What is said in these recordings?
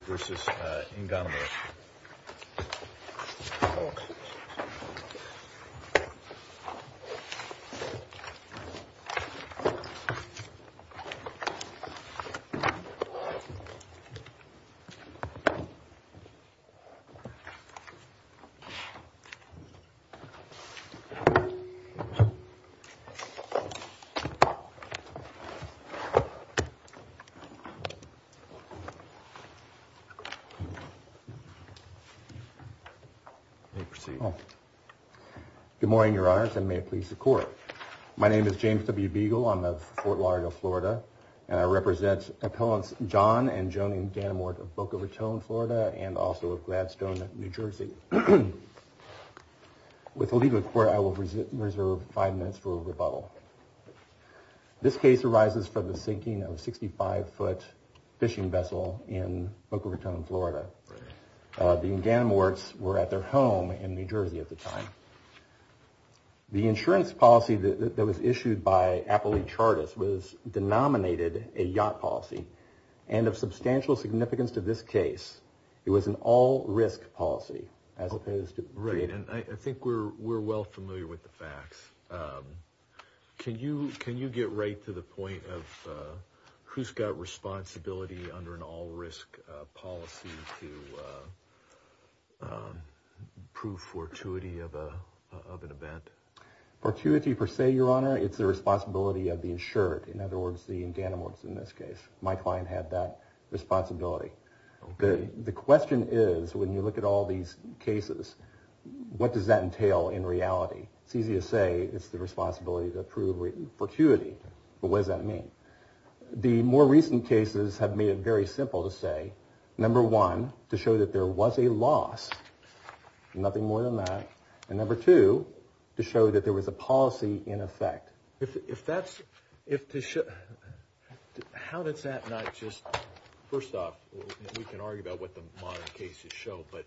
v. Inganamort Good morning, Your Honors, and may it please the Court. My name is James W. Beagle. I'm of Fort Lauderdale, Florida, and I represent Appellants John and Joni Inganamort of Boca Raton, Florida, and also of Gladstone, New Jersey. With the legal report, I will reserve five minutes for rebuttal. This case arises from the sinking of a 65-foot fishing vessel in Boca Raton, Florida. The Inganamorts were at their home in New Jersey at the time. The insurance policy that was issued by Appellee Chartis was denominated a yacht policy, and of substantial significance to this case, it was an all-risk policy. Right, and I think we're well familiar with the facts. Can you get right to the point of who's got responsibility under an all-risk policy to prove fortuity of an event? Fortuity per se, Your Honor, it's the responsibility of the insured, in other words the Inganamorts in this case. My client had that responsibility. The question is, when you look at all these cases, what does that entail in reality? It's easy to say it's the responsibility to prove fortuity, but what does that mean? The more recent cases have made it very simple to say, number one, to show that there was a loss, nothing more than that, and number two, to show that there was a policy in effect. How does that not just, first off, we can argue about what the modern cases show, but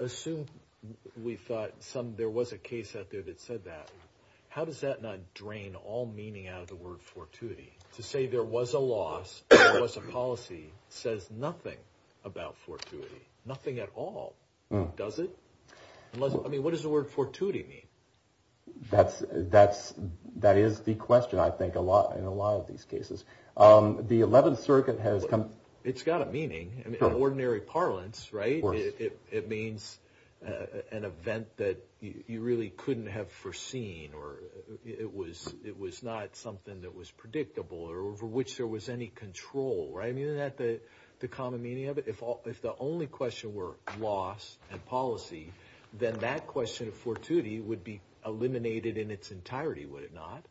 assume we thought there was a case out there that said that. How does that not drain all meaning out of the word fortuity? To say there was a loss, there was a policy, says nothing about fortuity, nothing at all, does it? I mean, what does the word fortuity mean? That is the question, I think, in a lot of these cases. The 11th Circuit has... It's got a meaning. In ordinary parlance, right, it means an event that you really couldn't have foreseen, or it was not something that was predictable, or over which there was any control, right? Isn't that the common meaning of it? If the only question were loss and policy, then that question of fortuity would be eliminated in its entirety, would it not?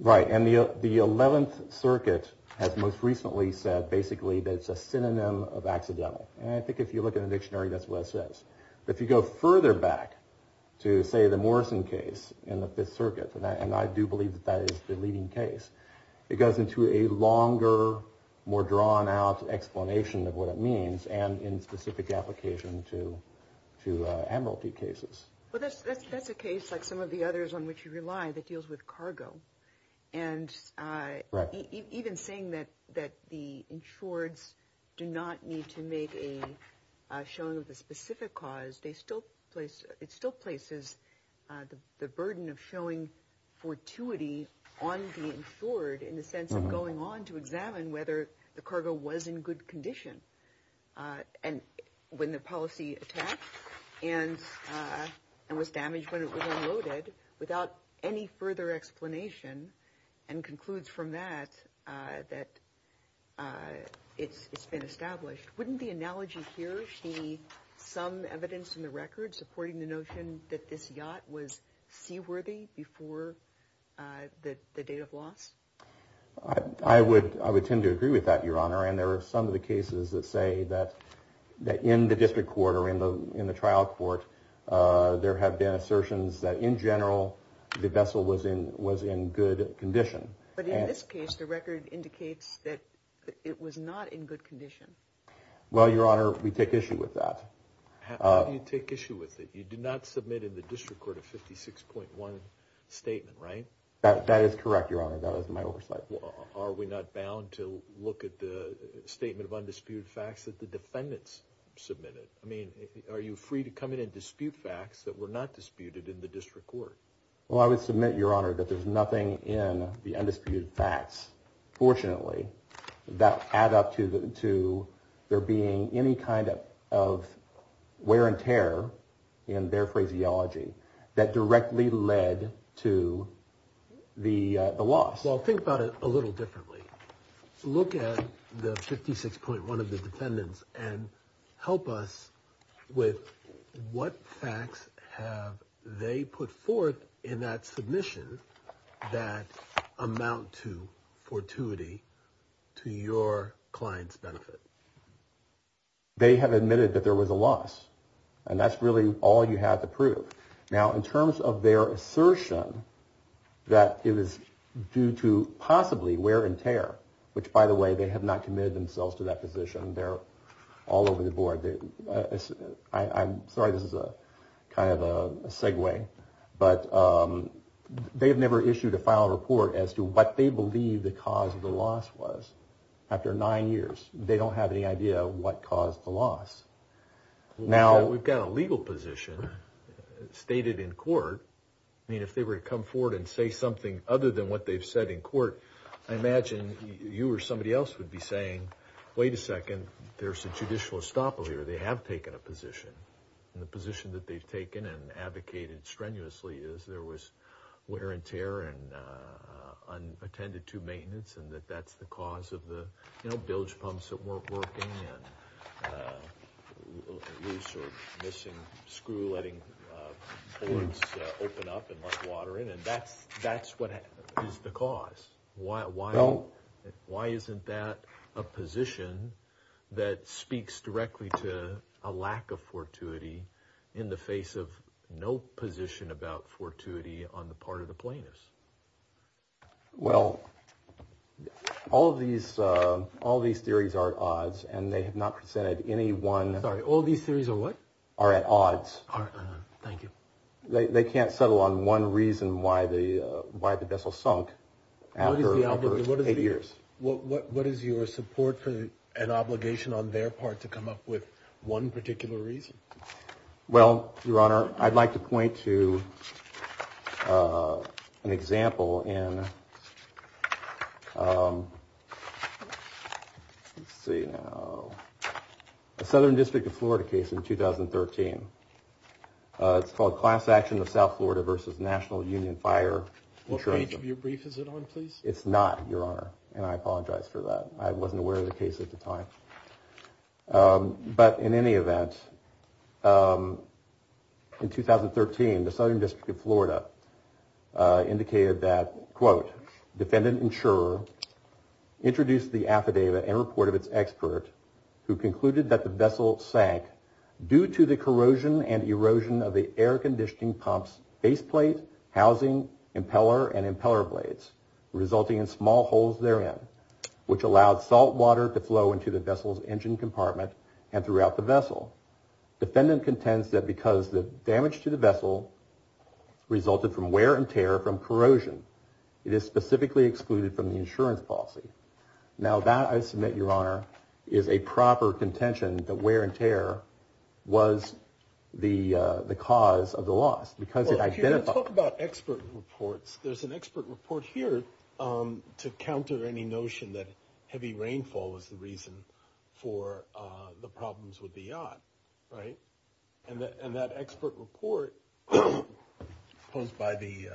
Right, and the 11th Circuit has most recently said, basically, that it's a synonym of accidental, and I think if you look in the dictionary, that's what it says. But if you go further back to, say, the Morrison case in the 5th Circuit, and I do believe that that is the leading case, it goes into a longer, more drawn-out explanation of what it means, and in specific application to emerald deep cases. Well, that's a case, like some of the others on which you rely, that deals with cargo. And even saying that the insureds do not need to make a showing of the specific cause, it still places the burden of showing fortuity on the insured, in the sense of going on to examine whether the cargo was in good condition, and when the policy attacked, and was damaged when it was unloaded, without any further explanation, and concludes from that, that it's been established. Wouldn't the analogy here be some evidence in the record supporting the notion that this yacht was seaworthy before the date of loss? I would tend to agree with that, Your Honor, and there are some of the cases that say that in the district court, or in the trial court, there have been assertions that in general, the vessel was in good condition. But in this case, the record indicates that it was not in good condition. Well, Your Honor, we take issue with that. How do you take issue with it? You did not submit in the district court a 56.1 statement, right? That is correct, Your Honor, that was my oversight. Are we not bound to look at the statement of undisputed facts that the defendants submitted? I mean, are you free to come in and dispute facts that were not disputed in the district court? Well, I would submit, Your Honor, that there's nothing in the undisputed facts, fortunately, that add up to there being any kind of wear and tear in their phraseology that directly led to the loss. Well, think about it a little differently. Look at the 56.1 of the defendants and help us with what facts have they put forth in that submission that amount to fortuity to your client's benefit. They have admitted that there was a loss, and that's really all you have to prove. Now, in terms of their assertion that it was due to possibly wear and tear, which, by the way, they have not committed themselves to that position, they're all over the board. I'm sorry, this is kind of a segue, but they have never issued a final report as to what they believe the cause of the loss was. After nine years, they don't have any idea what caused the loss. Now, we've got a legal position stated in court. I mean, if they were to come forward and say something other than what they've said in court, I imagine you or somebody else would be saying, wait a second, there's a judicial estoppel here. They have taken a position, and the position that they've taken and advocated strenuously is there was wear and tear and unattended to maintenance, and that that's the cause of the bilge pumps that weren't working and loose or missing, screw-letting boards open up and let water in. That's what is the cause. Why isn't that a position that speaks directly to a lack of fortuity in the face of no position about fortuity on the part of the plaintiffs? Well, all of these theories are at odds, and they have not presented any one. Sorry, all these theories are what? Are at odds. Thank you. They can't settle on one reason why the vessel sunk after eight years. What is your support for an obligation on their part to come up with one particular reason? Well, Your Honor, I'd like to point to an example in a Southern District of Florida case in 2013. It's called Class Action of South Florida versus National Union Fire Insurance. What page of your brief is it on, please? It's not, Your Honor, and I apologize for that. I wasn't aware of the case at the time. But in any event, in 2013, the Southern District of Florida indicated that, quote, defendant insurer introduced the affidavit in report of its expert who concluded that the vessel sank due to the corrosion and erosion of the air-conditioning pump's faceplate, housing, impeller, and impeller blades, resulting in small holes therein, which allowed salt water to flow into the vessel's engine compartment and throughout the vessel. Defendant contends that because the damage to the vessel resulted from wear and tear from corrosion, it is specifically excluded from the insurance policy. Now, that, I submit, Your Honor, is a proper contention that wear and tear was the cause of the loss. Well, if you're going to talk about expert reports, there's an expert report here to counter any notion that heavy rainfall was the reason for the problems with the yacht, right? And that expert report posed by the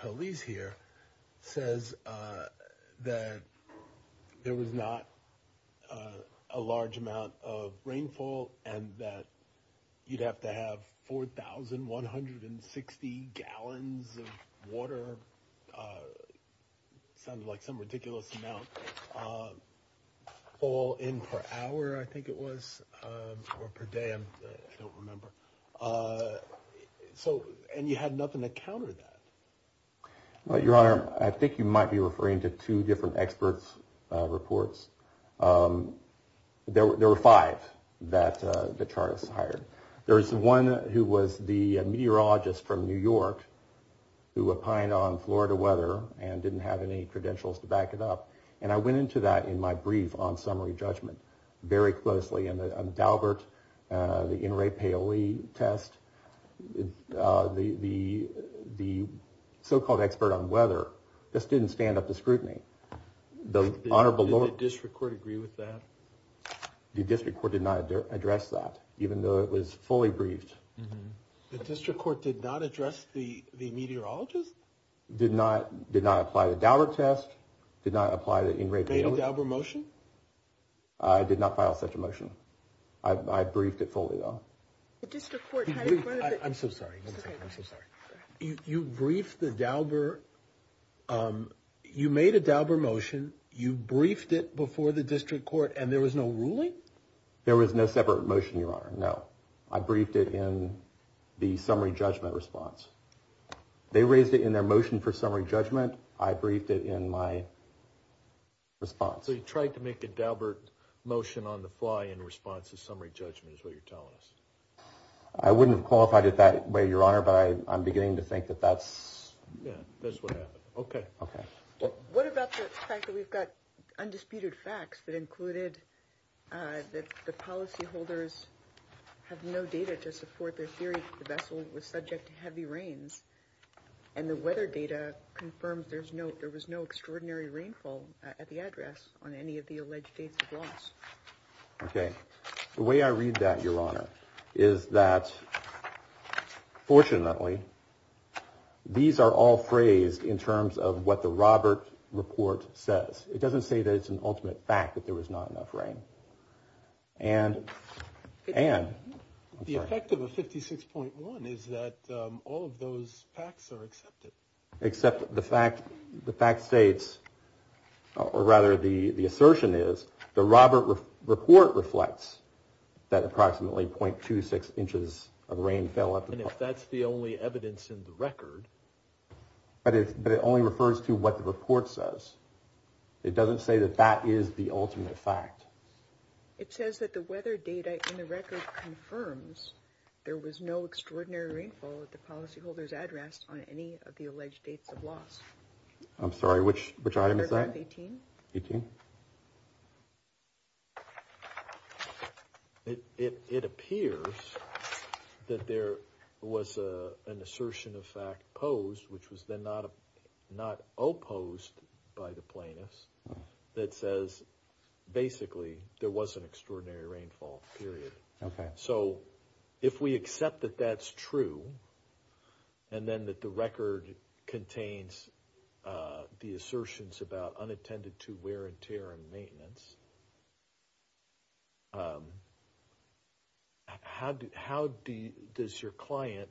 police here says that there was not a large amount of rainfall and that you'd have to have 4,160 gallons of water, sounds like some ridiculous amount, fall in per hour, I think it was, or per day, I don't remember. So, and you had nothing to counter that. Well, Your Honor, I think you might be referring to two different experts' reports. There were five that the Charters hired. There was one who was the meteorologist from New York who opined on Florida weather and didn't have any credentials to back it up. And I went into that in my brief on summary judgment very closely. And the Daubert, the N. Ray Paoli test, the so-called expert on weather just didn't stand up to scrutiny. Does the district court agree with that? The district court did not address that, even though it was fully briefed. The district court did not address the meteorologist? Did not apply the Daubert test, did not apply the N. Ray Paoli. Made a Daubert motion? I did not file such a motion. I briefed it fully, though. The district court had it in front of it. I'm so sorry. I'm so sorry. You briefed the Daubert, you made a Daubert motion, you briefed it before the district court, and there was no ruling? There was no separate motion, Your Honor, no. I briefed it in the summary judgment response. They raised it in their motion for summary judgment. I briefed it in my response. So you tried to make a Daubert motion on the fly in response to summary judgment is what you're telling us? I wouldn't have qualified it that way, Your Honor, but I'm beginning to think that that's what happened. Okay. What about the fact that we've got undisputed facts that included that the policyholders have no data to support their theory that the vessel was subject to heavy rains, and the weather data confirms there was no extraordinary rainfall at the address on any of the alleged dates of loss? Okay. The way I read that, Your Honor, is that fortunately these are all phrased in terms of what the Robert report says. It doesn't say that it's an ultimate fact that there was not enough rain. And the effect of a 56.1 is that all of those facts are accepted. Except the fact states, or rather the assertion is, the Robert report reflects that approximately .26 inches of rain fell. And if that's the only evidence in the record. But it only refers to what the report says. It doesn't say that that is the ultimate fact. It says that the weather data in the record confirms there was no extraordinary rainfall at the policyholders' address on any of the alleged dates of loss. I'm sorry, which item is that? Number 18. 18. It appears that there was an assertion of fact posed, which was then not opposed by the plaintiffs, that says basically there was an extraordinary rainfall, period. Okay. So if we accept that that's true, and then that the record contains the assertions about unattended to wear and tear and maintenance, how does your client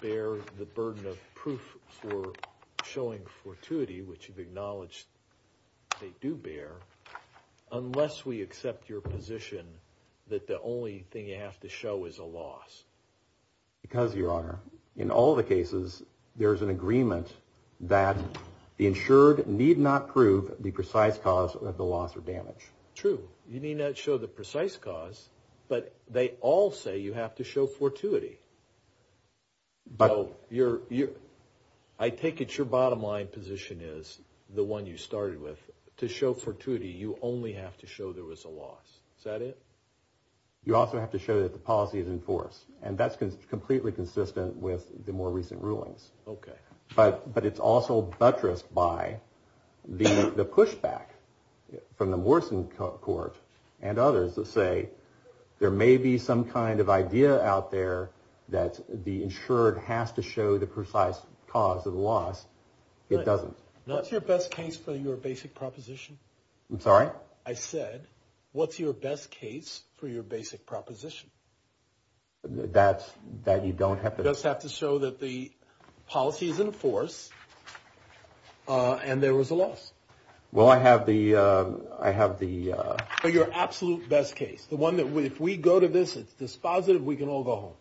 bear the burden of proof for showing fortuity, which you've acknowledged they do bear, unless we accept your position that the only thing you have to show is a loss? Because, Your Honor, in all the cases, there's an agreement that the insured need not prove the precise cause of the loss or damage. True. You need not show the precise cause, but they all say you have to show fortuity. I take it your bottom line position is the one you started with. To show fortuity, you only have to show there was a loss. Is that it? You also have to show that the policy is in force, and that's completely consistent with the more recent rulings. Okay. But it's also buttressed by the pushback from the Morrison Court and others that say there may be some kind of idea out there that the insured has to show the precise cause of the loss. It doesn't. What's your best case for your basic proposition? I'm sorry? I said, what's your best case for your basic proposition? That you don't have to? You just have to show that the policy is in force, and there was a loss. Well, I have the... But your absolute best case, the one that if we go to this, it's dispositive, we can all go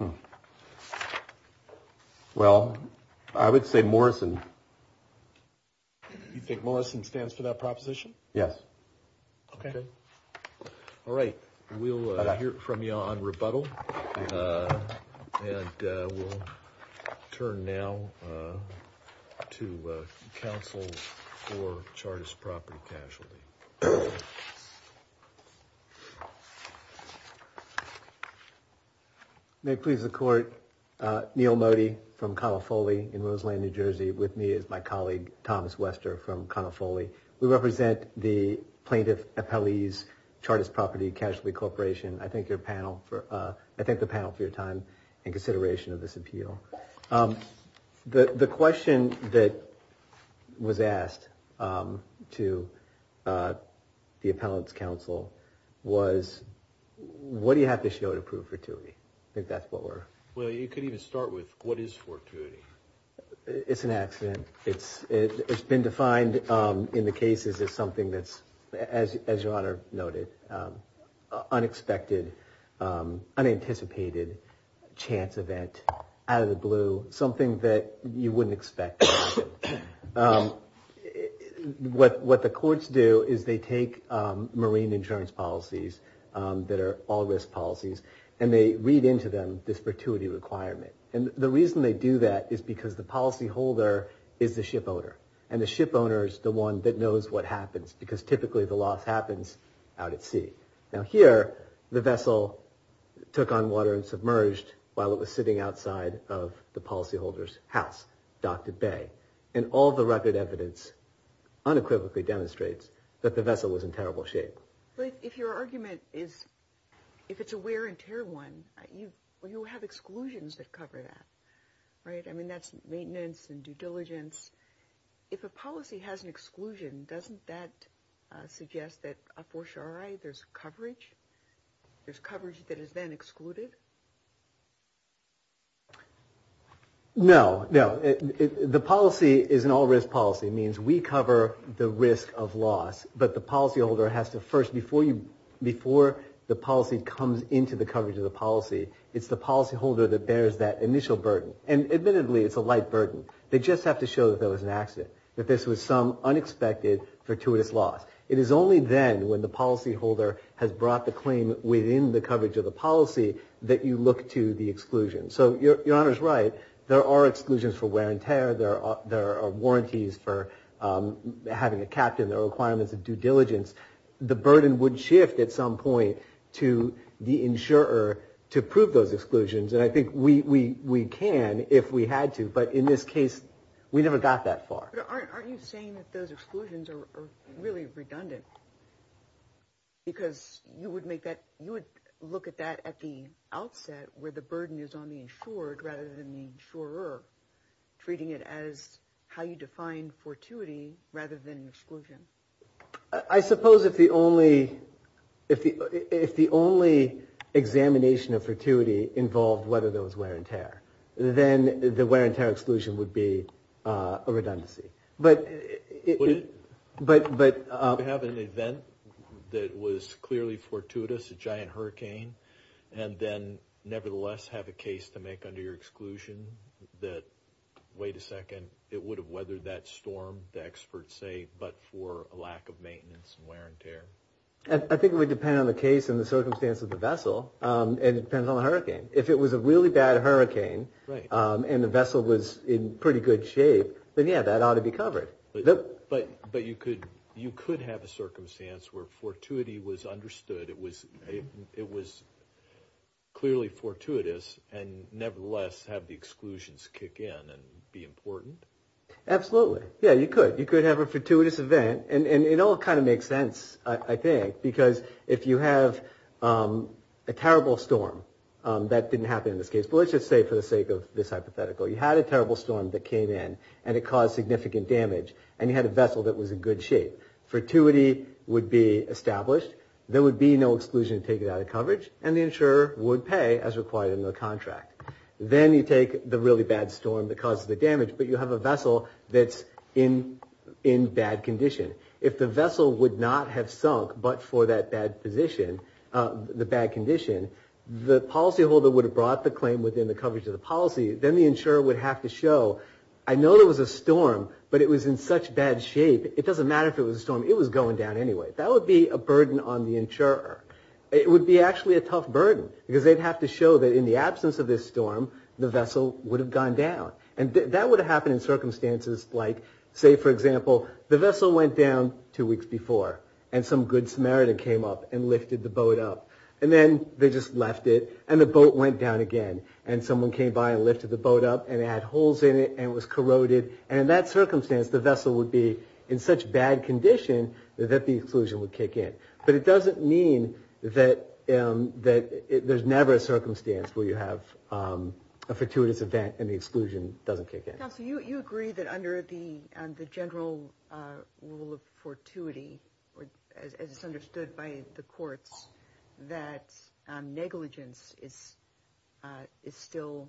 home. Well, I would say Morrison. You think Morrison stands for that proposition? Yes. Okay. All right. We'll hear from you on rebuttal, and we'll turn now to counsel for charges of property casualty. May it please the Court. Neil Modi from Conifoli in Roseland, New Jersey, with me is my colleague Thomas Wester from Conifoli. We represent the plaintiff appellees, Chartist Property Casualty Corporation. I thank the panel for your time and consideration of this appeal. The question that was asked to the appellant's counsel was, what do you have to show to prove fortuity? I think that's what we're... Well, you could even start with, what is fortuity? It's an accident. It's been defined in the cases as something that's, as your Honor noted, unexpected, unanticipated chance event, out of the blue, something that you wouldn't expect. What the courts do is they take marine insurance policies that are all-risk policies, and they read into them this fortuity requirement. And the reason they do that is because the policyholder is the shipowner, and the shipowner is the one that knows what happens, because typically the loss happens out at sea. Now here, the vessel took on water and submerged while it was sitting outside of the policyholder's house, docked at bay. And all the record evidence unequivocally demonstrates that the vessel was in terrible shape. But if your argument is, if it's a wear and tear one, you have exclusions that cover that, right? I mean, that's maintenance and due diligence. If a policy has an exclusion, doesn't that suggest that a fortiori there's coverage? There's coverage that is then excluded? No, no. The policy is an all-risk policy. It means we cover the risk of loss, but the policyholder has to first, before the policy comes into the coverage of the policy, it's the policyholder that bears that initial burden. And admittedly, it's a light burden. They just have to show that there was an accident, that this was some unexpected, fortuitous loss. It is only then, when the policyholder has brought the claim within the coverage of the policy, that you look to the exclusion. So Your Honor's right. There are exclusions for wear and tear. There are warranties for having a captain. There are requirements of due diligence. The burden would shift at some point to the insurer to prove those exclusions. And I think we can if we had to. But in this case, we never got that far. But aren't you saying that those exclusions are really redundant? Because you would look at that at the outset where the burden is on the insured rather than the insurer, treating it as how you define fortuity rather than exclusion. I suppose if the only examination of fortuity involved whether there was wear and tear, then the wear and tear exclusion would be a redundancy. Would it have an event that was clearly fortuitous, a giant hurricane, and then nevertheless have a case to make under your exclusion that, wait a second, it would have weathered that storm, the experts say, but for a lack of maintenance and wear and tear? I think it would depend on the case and the circumstance of the vessel. And it depends on the hurricane. If it was a really bad hurricane and the vessel was in pretty good shape, then, yeah, that ought to be covered. But you could have a circumstance where fortuity was understood, it was clearly fortuitous, and nevertheless have the exclusions kick in and be important? Absolutely. Yeah, you could. You could have a fortuitous event. And it all kind of makes sense, I think, because if you have a terrible storm, that didn't happen in this case, but let's just say for the sake of this hypothetical, you had a terrible storm that came in and it caused significant damage, and you had a vessel that was in good shape, fortuity would be established, there would be no exclusion to take it out of coverage, and the insurer would pay as required in the contract. Then you take the really bad storm that caused the damage, but you have a vessel that's in bad condition. If the vessel would not have sunk but for that bad condition, the policyholder would have brought the claim within the coverage of the policy. Then the insurer would have to show, I know there was a storm, but it was in such bad shape, it doesn't matter if it was a storm, it was going down anyway. That would be a burden on the insurer. It would be actually a tough burden because they'd have to show that in the absence of this storm, the vessel would have gone down. That would have happened in circumstances like, say for example, the vessel went down two weeks before and some good Samaritan came up and lifted the boat up. Then they just left it and the boat went down again. Someone came by and lifted the boat up and it had holes in it and it was corroded. In that circumstance, the vessel would be in such bad condition that the exclusion would kick in. A fortuitous event and the exclusion doesn't kick in. You agree that under the general rule of fortuity, as it's understood by the courts, that negligence is still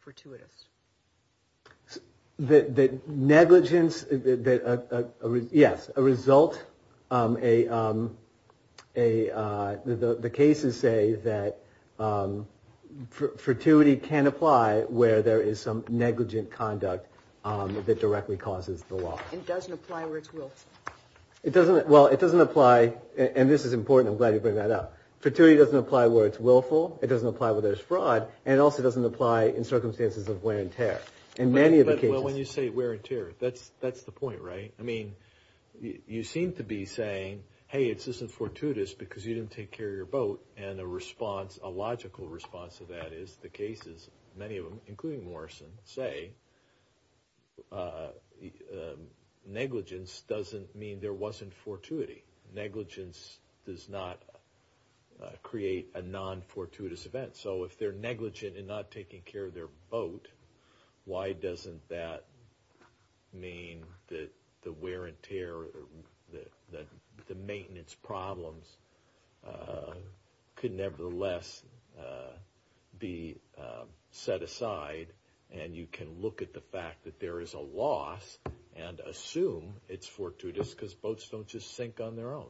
fortuitous. Yes, a result, the cases say that fortuity can apply where there is some negligent conduct that directly causes the loss. It doesn't apply where it's willful. Well, it doesn't apply, and this is important, I'm glad you bring that up. Fortuity doesn't apply where it's willful, it doesn't apply where there's fraud, and it also doesn't apply in circumstances of wear and tear. Well, when you say wear and tear, that's the point, right? I mean, you seem to be saying, hey, this isn't fortuitous because you didn't take care of your boat, and a logical response to that is the cases, many of them, including Morrison, say negligence doesn't mean there wasn't fortuity. Negligence does not create a non-fortuitous event. So if they're negligent in not taking care of their boat, why doesn't that mean that the wear and tear, the maintenance problems could nevertheless be set aside and you can look at the fact that there is a loss and assume it's fortuitous because boats don't just sink on their own.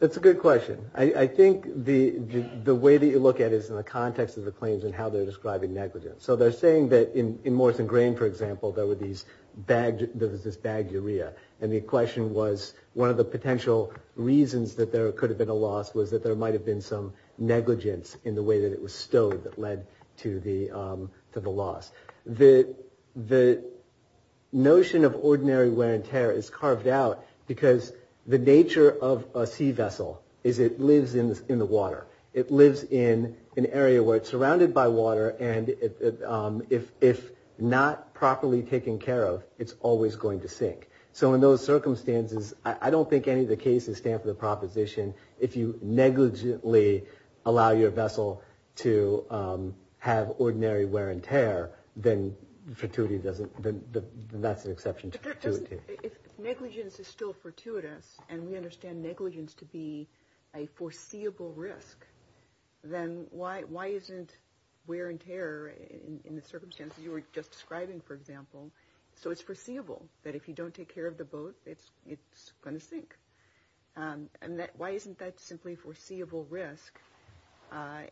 That's a good question. I think the way that you look at it is in the context of the claims and how they're describing negligence. So they're saying that in Morrison Grain, for example, there was this bagged urea, and the question was one of the potential reasons that there could have been a loss was that there might have been some negligence in the way that it was stowed that led to the loss. The notion of ordinary wear and tear is carved out because the nature of a sea vessel is it lives in the water. It lives in an area where it's surrounded by water, and if not properly taken care of, it's always going to sink. So in those circumstances, I don't think any of the cases stand for the proposition if you negligently allow your vessel to have ordinary wear and tear, then that's an exception to fortuity. If negligence is still fortuitous and we understand negligence to be a foreseeable risk, then why isn't wear and tear in the circumstances you were just describing, for example, so it's foreseeable that if you don't take care of the boat, it's going to sink? Why isn't that simply foreseeable risk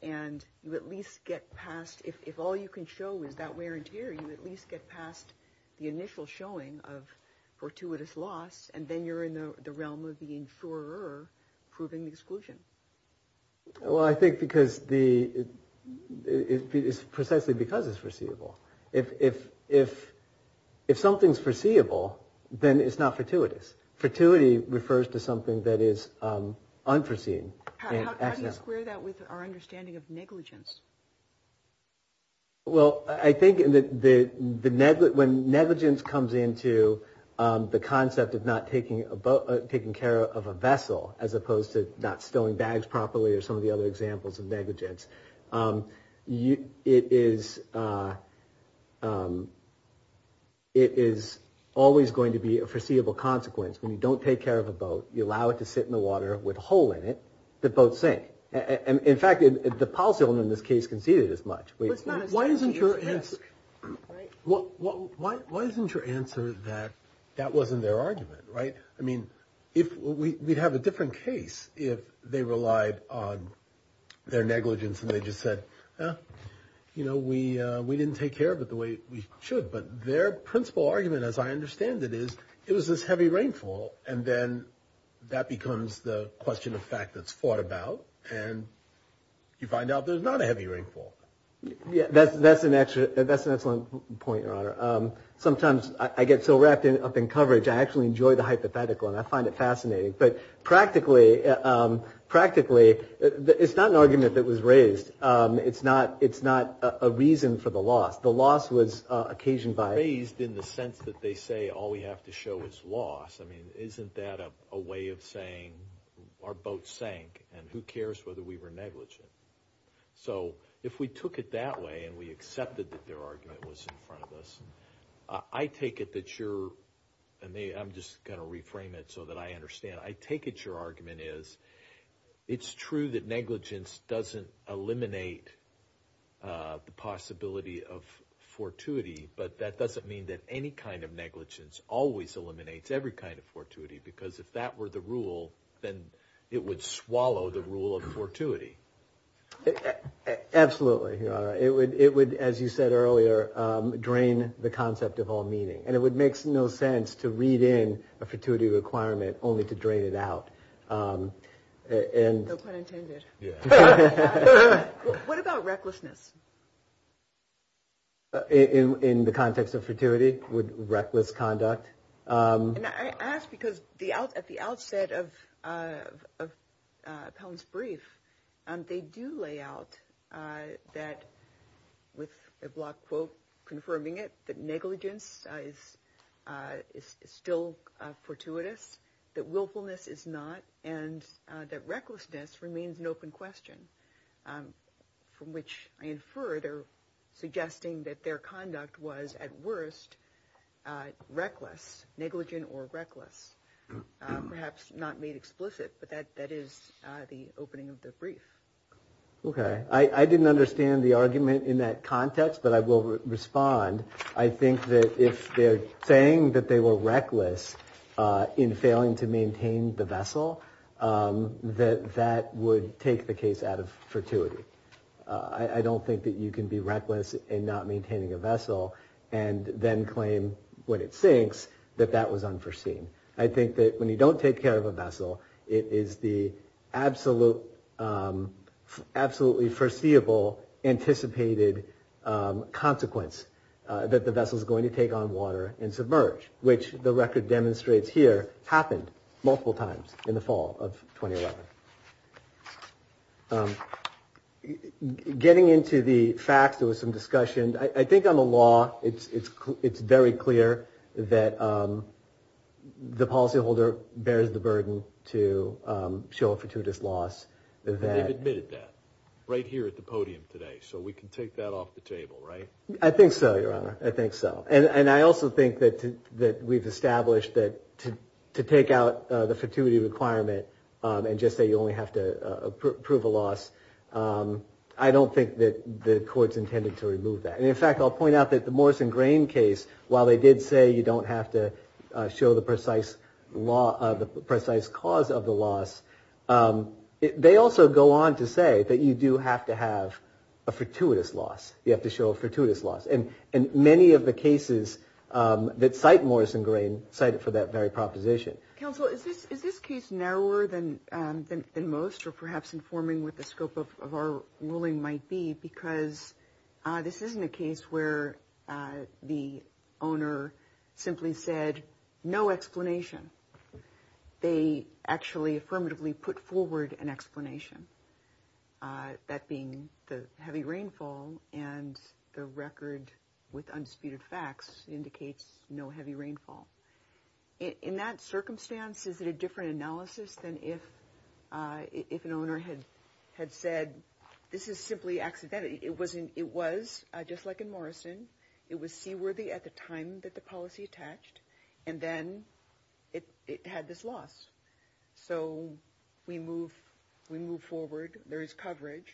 and you at least get past, if all you can show is that wear and tear, you at least get past the initial showing of fortuitous loss, and then you're in the realm of the insurer proving the exclusion? Well, I think it's precisely because it's foreseeable. If something's foreseeable, then it's not fortuitous. Fortuity refers to something that is unforeseen. How do you square that with our understanding of negligence? Well, I think when negligence comes into the concept of not taking care of a vessel as opposed to not stowing bags properly or some of the other examples of negligence, it is always going to be a foreseeable consequence. When you don't take care of a boat, you allow it to sit in the water with a hole in it, the boat sinks. In fact, the policy on this case conceded as much. Why isn't your answer that that wasn't their argument, right? I mean, we'd have a different case if they relied on their negligence and they just said, you know, we didn't take care of it the way we should. But their principal argument, as I understand it, is it was this heavy rainfall, and then that becomes the question of fact that's fought about, and you find out there's not a heavy rainfall. Yeah, that's an excellent point, Your Honor. Sometimes I get so wrapped up in coverage, I actually enjoy the hypothetical, and I find it fascinating. But practically, it's not an argument that was raised. It's not a reason for the loss. The loss was occasioned by it. In the sense that they say all we have to show is loss. I mean, isn't that a way of saying our boat sank, and who cares whether we were negligent? So if we took it that way and we accepted that their argument was in front of us, I take it that you're, and I'm just going to reframe it so that I understand, I take it your argument is it's true that negligence doesn't eliminate the possibility of fortuity, but that doesn't mean that any kind of negligence always eliminates every kind of fortuity, because if that were the rule, then it would swallow the rule of fortuity. Absolutely, Your Honor. It would, as you said earlier, drain the concept of all meaning, and it would make no sense to read in a fortuity requirement only to drain it out. No pun intended. What about recklessness? In the context of fortuity, would reckless conduct? I ask because at the outset of Pelham's brief, they do lay out that, with a block quote confirming it, that negligence is still fortuitous, that willfulness is not, and that recklessness remains an open question, from which I infer they're suggesting that their conduct was, at worst, reckless, negligent or reckless, perhaps not made explicit, but that is the opening of the brief. Okay. I didn't understand the argument in that context, but I will respond. I think that if they're saying that they were reckless in failing to maintain the vessel, that that would take the case out of fortuity. I don't think that you can be reckless in not maintaining a vessel and then claim, when it sinks, that that was unforeseen. I think that when you don't take care of a vessel, it is the absolutely foreseeable anticipated consequence that the vessel is going to take on water and submerge, which the record demonstrates here happened multiple times in the fall of 2011. Getting into the facts, there was some discussion. I think on the law, it's very clear that the policyholder bears the burden to show a fortuitous loss. They've admitted that right here at the podium today, so we can take that off the table, right? I think so, Your Honor. I think so. I also think that we've established that to take out the fortuity requirement and just say you only have to approve a loss, I don't think that the Court's intended to remove that. In fact, I'll point out that the Morrison-Grain case, while they did say you don't have to show the precise cause of the loss, they also go on to say that you do have to have a fortuitous loss. You have to show a fortuitous loss. And many of the cases that cite Morrison-Grain cite it for that very proposition. Counsel, is this case narrower than most or perhaps informing what the scope of our ruling might be? Because this isn't a case where the owner simply said no explanation. They actually affirmatively put forward an explanation, that being the heavy rainfall and the record with undisputed facts indicates no heavy rainfall. In that circumstance, is it a different analysis than if an owner had said this is simply accidental? It was just like in Morrison. It was seaworthy at the time that the policy attached. And then it had this loss. So we move forward. There is coverage.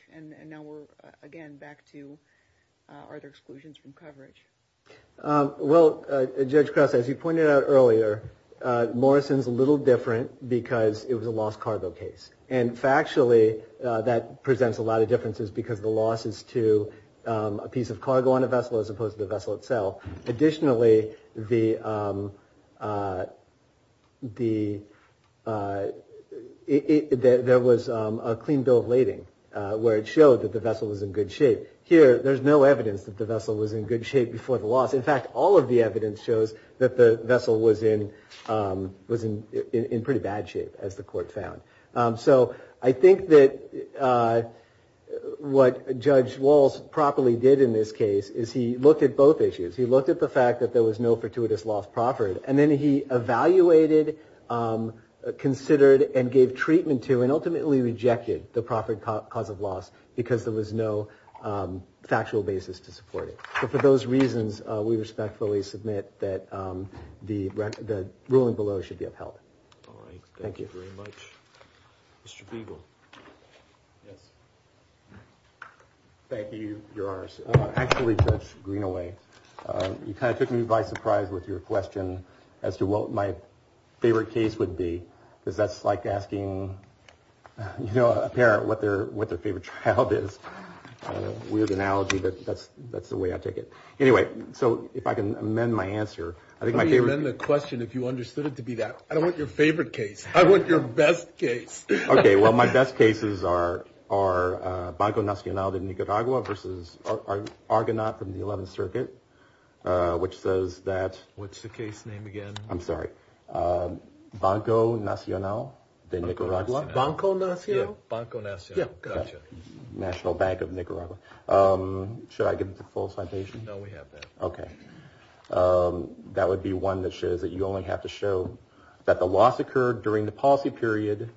Well, Judge Krause, as you pointed out earlier, Morrison's a little different because it was a lost cargo case. And factually, that presents a lot of differences because the loss is to a piece of cargo on a vessel as opposed to the vessel itself. Additionally, there was a clean bill of lading where it showed that the vessel was in good shape. Here, there's no evidence that the vessel was in good shape before the loss. In fact, all of the evidence shows that the vessel was in pretty bad shape, as the court found. So I think that what Judge Walsh properly did in this case is he looked at both issues. He looked at the fact that there was no fortuitous loss proffered. And then he evaluated, considered, and gave treatment to, and ultimately rejected the proffered cause of loss because there was no factual basis to support it. But for those reasons, we respectfully submit that the ruling below should be upheld. All right. Thank you very much. Mr. Beagle. Thank you. You're ours. Actually, Judge Greenaway, you kind of took me by surprise with your question as to what my favorite case would be. Because that's like asking, you know, a parent what their favorite child is. Weird analogy, but that's the way I take it. Anyway, so if I can amend my answer. Let me amend the question if you understood it to be that. I don't want your favorite case. I want your best case. Okay. Well, my best cases are Banco Nacional de Nicaragua versus Argonaut from the 11th Circuit, which says that. What's the case name again? I'm sorry. Banco Nacional de Nicaragua. Banco Nacional. Banco Nacional. Yeah. Got you. National Bank of Nicaragua. Should I give the full citation? No, we have that. Okay. That would be one that shows that you only have to show that the loss occurred during the policy period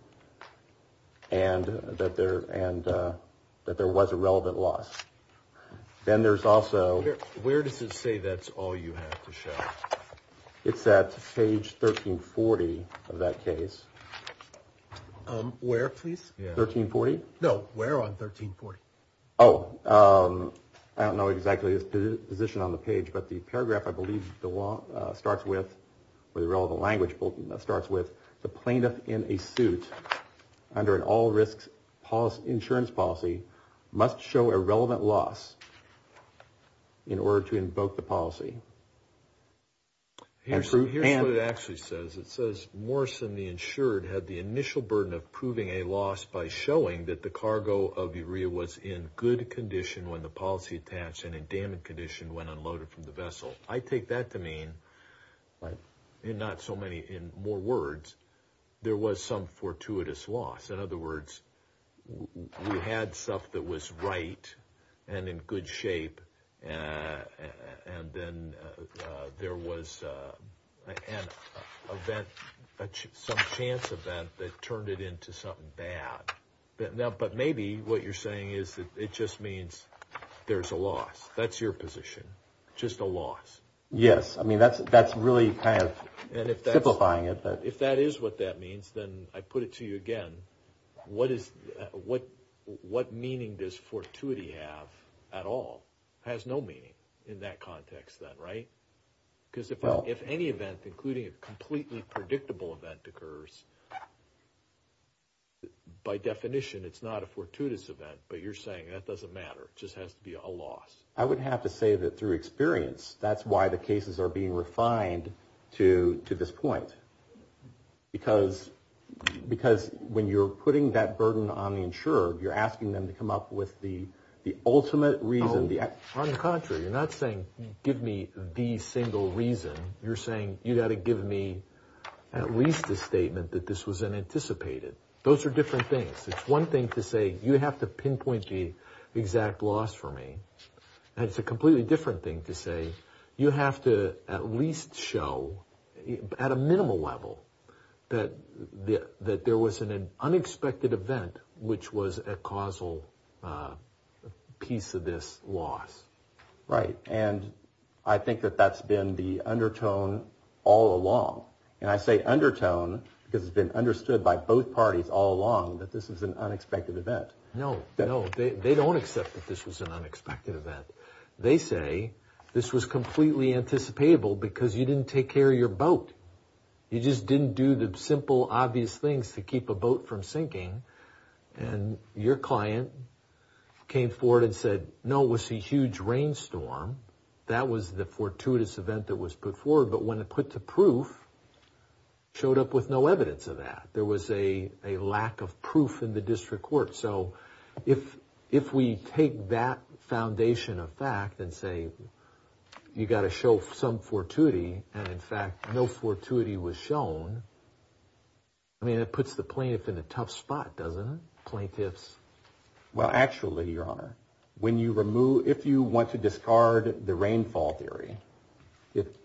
and that there was a relevant loss. Then there's also. Where does it say that's all you have to show? It's at page 1340 of that case. Where, please? 1340? No, where on 1340? Oh, I don't know exactly the position on the page, but the paragraph I believe the law starts with, or the relevant language starts with, the plaintiff in a suit under an all risks insurance policy must show a relevant loss in order to invoke the policy. Here's what it actually says. It says, Morrison, the insured, had the initial burden of proving a loss by showing that the cargo of Urea was in good condition when the policy attached and in damaged condition when unloaded from the vessel. I take that to mean in not so many, in more words, there was some fortuitous loss. In other words, we had stuff that was right and in good shape, and then there was an event, some chance event that turned it into something bad. But maybe what you're saying is that it just means there's a loss. That's your position. Just a loss. Yes. I mean, that's really kind of simplifying it. If that is what that means, then I put it to you again, what meaning does fortuity have at all? It has no meaning in that context then, right? Because if any event, including a completely predictable event occurs, by definition it's not a fortuitous event, but you're saying that doesn't matter. It just has to be a loss. I would have to say that through experience, that's why the cases are being refined to this point. Because when you're putting that burden on the insurer, you're asking them to come up with the ultimate reason. On the contrary, you're not saying give me the single reason. You're saying you've got to give me at least a statement that this was unanticipated. Those are different things. It's one thing to say you have to pinpoint the exact loss for me. And it's a completely different thing to say you have to at least show at a minimal level that there was an unexpected event which was a causal piece of this loss. Right. And I think that that's been the undertone all along. And I say undertone because it's been understood by both parties all along that this was an unexpected event. No, no, they don't accept that this was an unexpected event. They say this was completely anticipatable because you didn't take care of your boat. You just didn't do the simple, obvious things to keep a boat from sinking. And your client came forward and said, no, it was a huge rainstorm. That was the fortuitous event that was put forward. But when it put to proof, showed up with no evidence of that. There was a lack of proof in the district court. So if we take that foundation of fact and say you've got to show some fortuity and, in fact, no fortuity was shown, I mean, it puts the plaintiff in a tough spot, doesn't it, plaintiffs? Well, actually, Your Honor, if you want to discard the rainfall theory,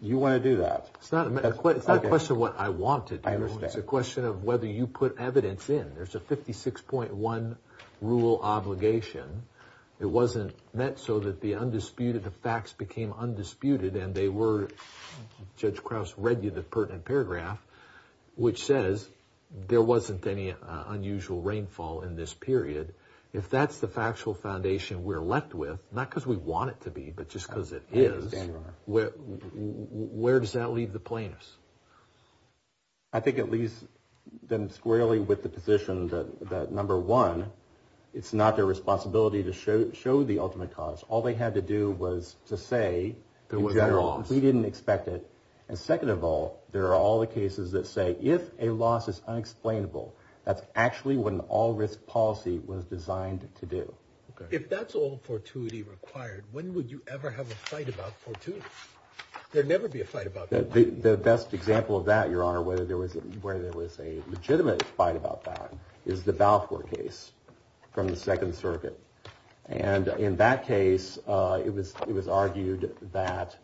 you want to do that. It's not a question of what I want to do. I understand. It's a question of whether you put evidence in. There's a 56.1 rule obligation. It wasn't meant so that the undisputed facts became undisputed. And they were, Judge Krauss read you the pertinent paragraph, which says there wasn't any unusual rainfall in this period. If that's the factual foundation we're left with, not because we want it to be, but just because it is, where does that leave the plaintiffs? I think it leaves them squarely with the position that, number one, it's not their responsibility to show the ultimate cause. All they had to do was to say, in general, we didn't expect it. And second of all, there are all the cases that say if a loss is unexplainable, that's actually what an all-risk policy was designed to do. If that's all fortuity required, when would you ever have a fight about fortuity? There'd never be a fight about fortuity. The best example of that, Your Honor, where there was a legitimate fight about that is the Balfour case from the Second Circuit. And in that case, it was argued that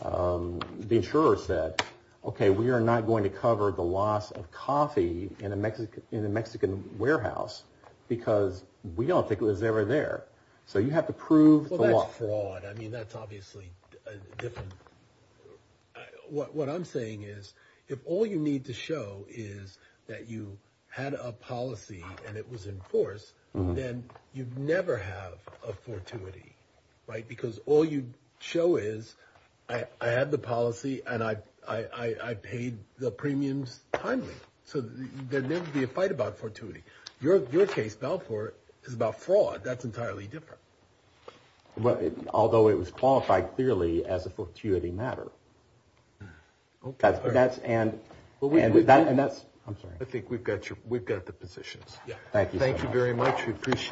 the insurer said, OK, we are not going to cover the loss of coffee in a Mexican warehouse because we don't think it was ever there. So you have to prove the loss. I mean, that's obviously different. What I'm saying is, if all you need to show is that you had a policy and it was enforced, then you'd never have a fortuity, right? Because all you show is, I had the policy and I paid the premiums timely. So there'd never be a fight about fortuity. Your case, Balfour, is about fraud. That's entirely different. Although it was qualified clearly as a fortuity matter. OK. And that's – I'm sorry. I think we've got the positions. Thank you, Your Honor. Thank you very much. We appreciate it.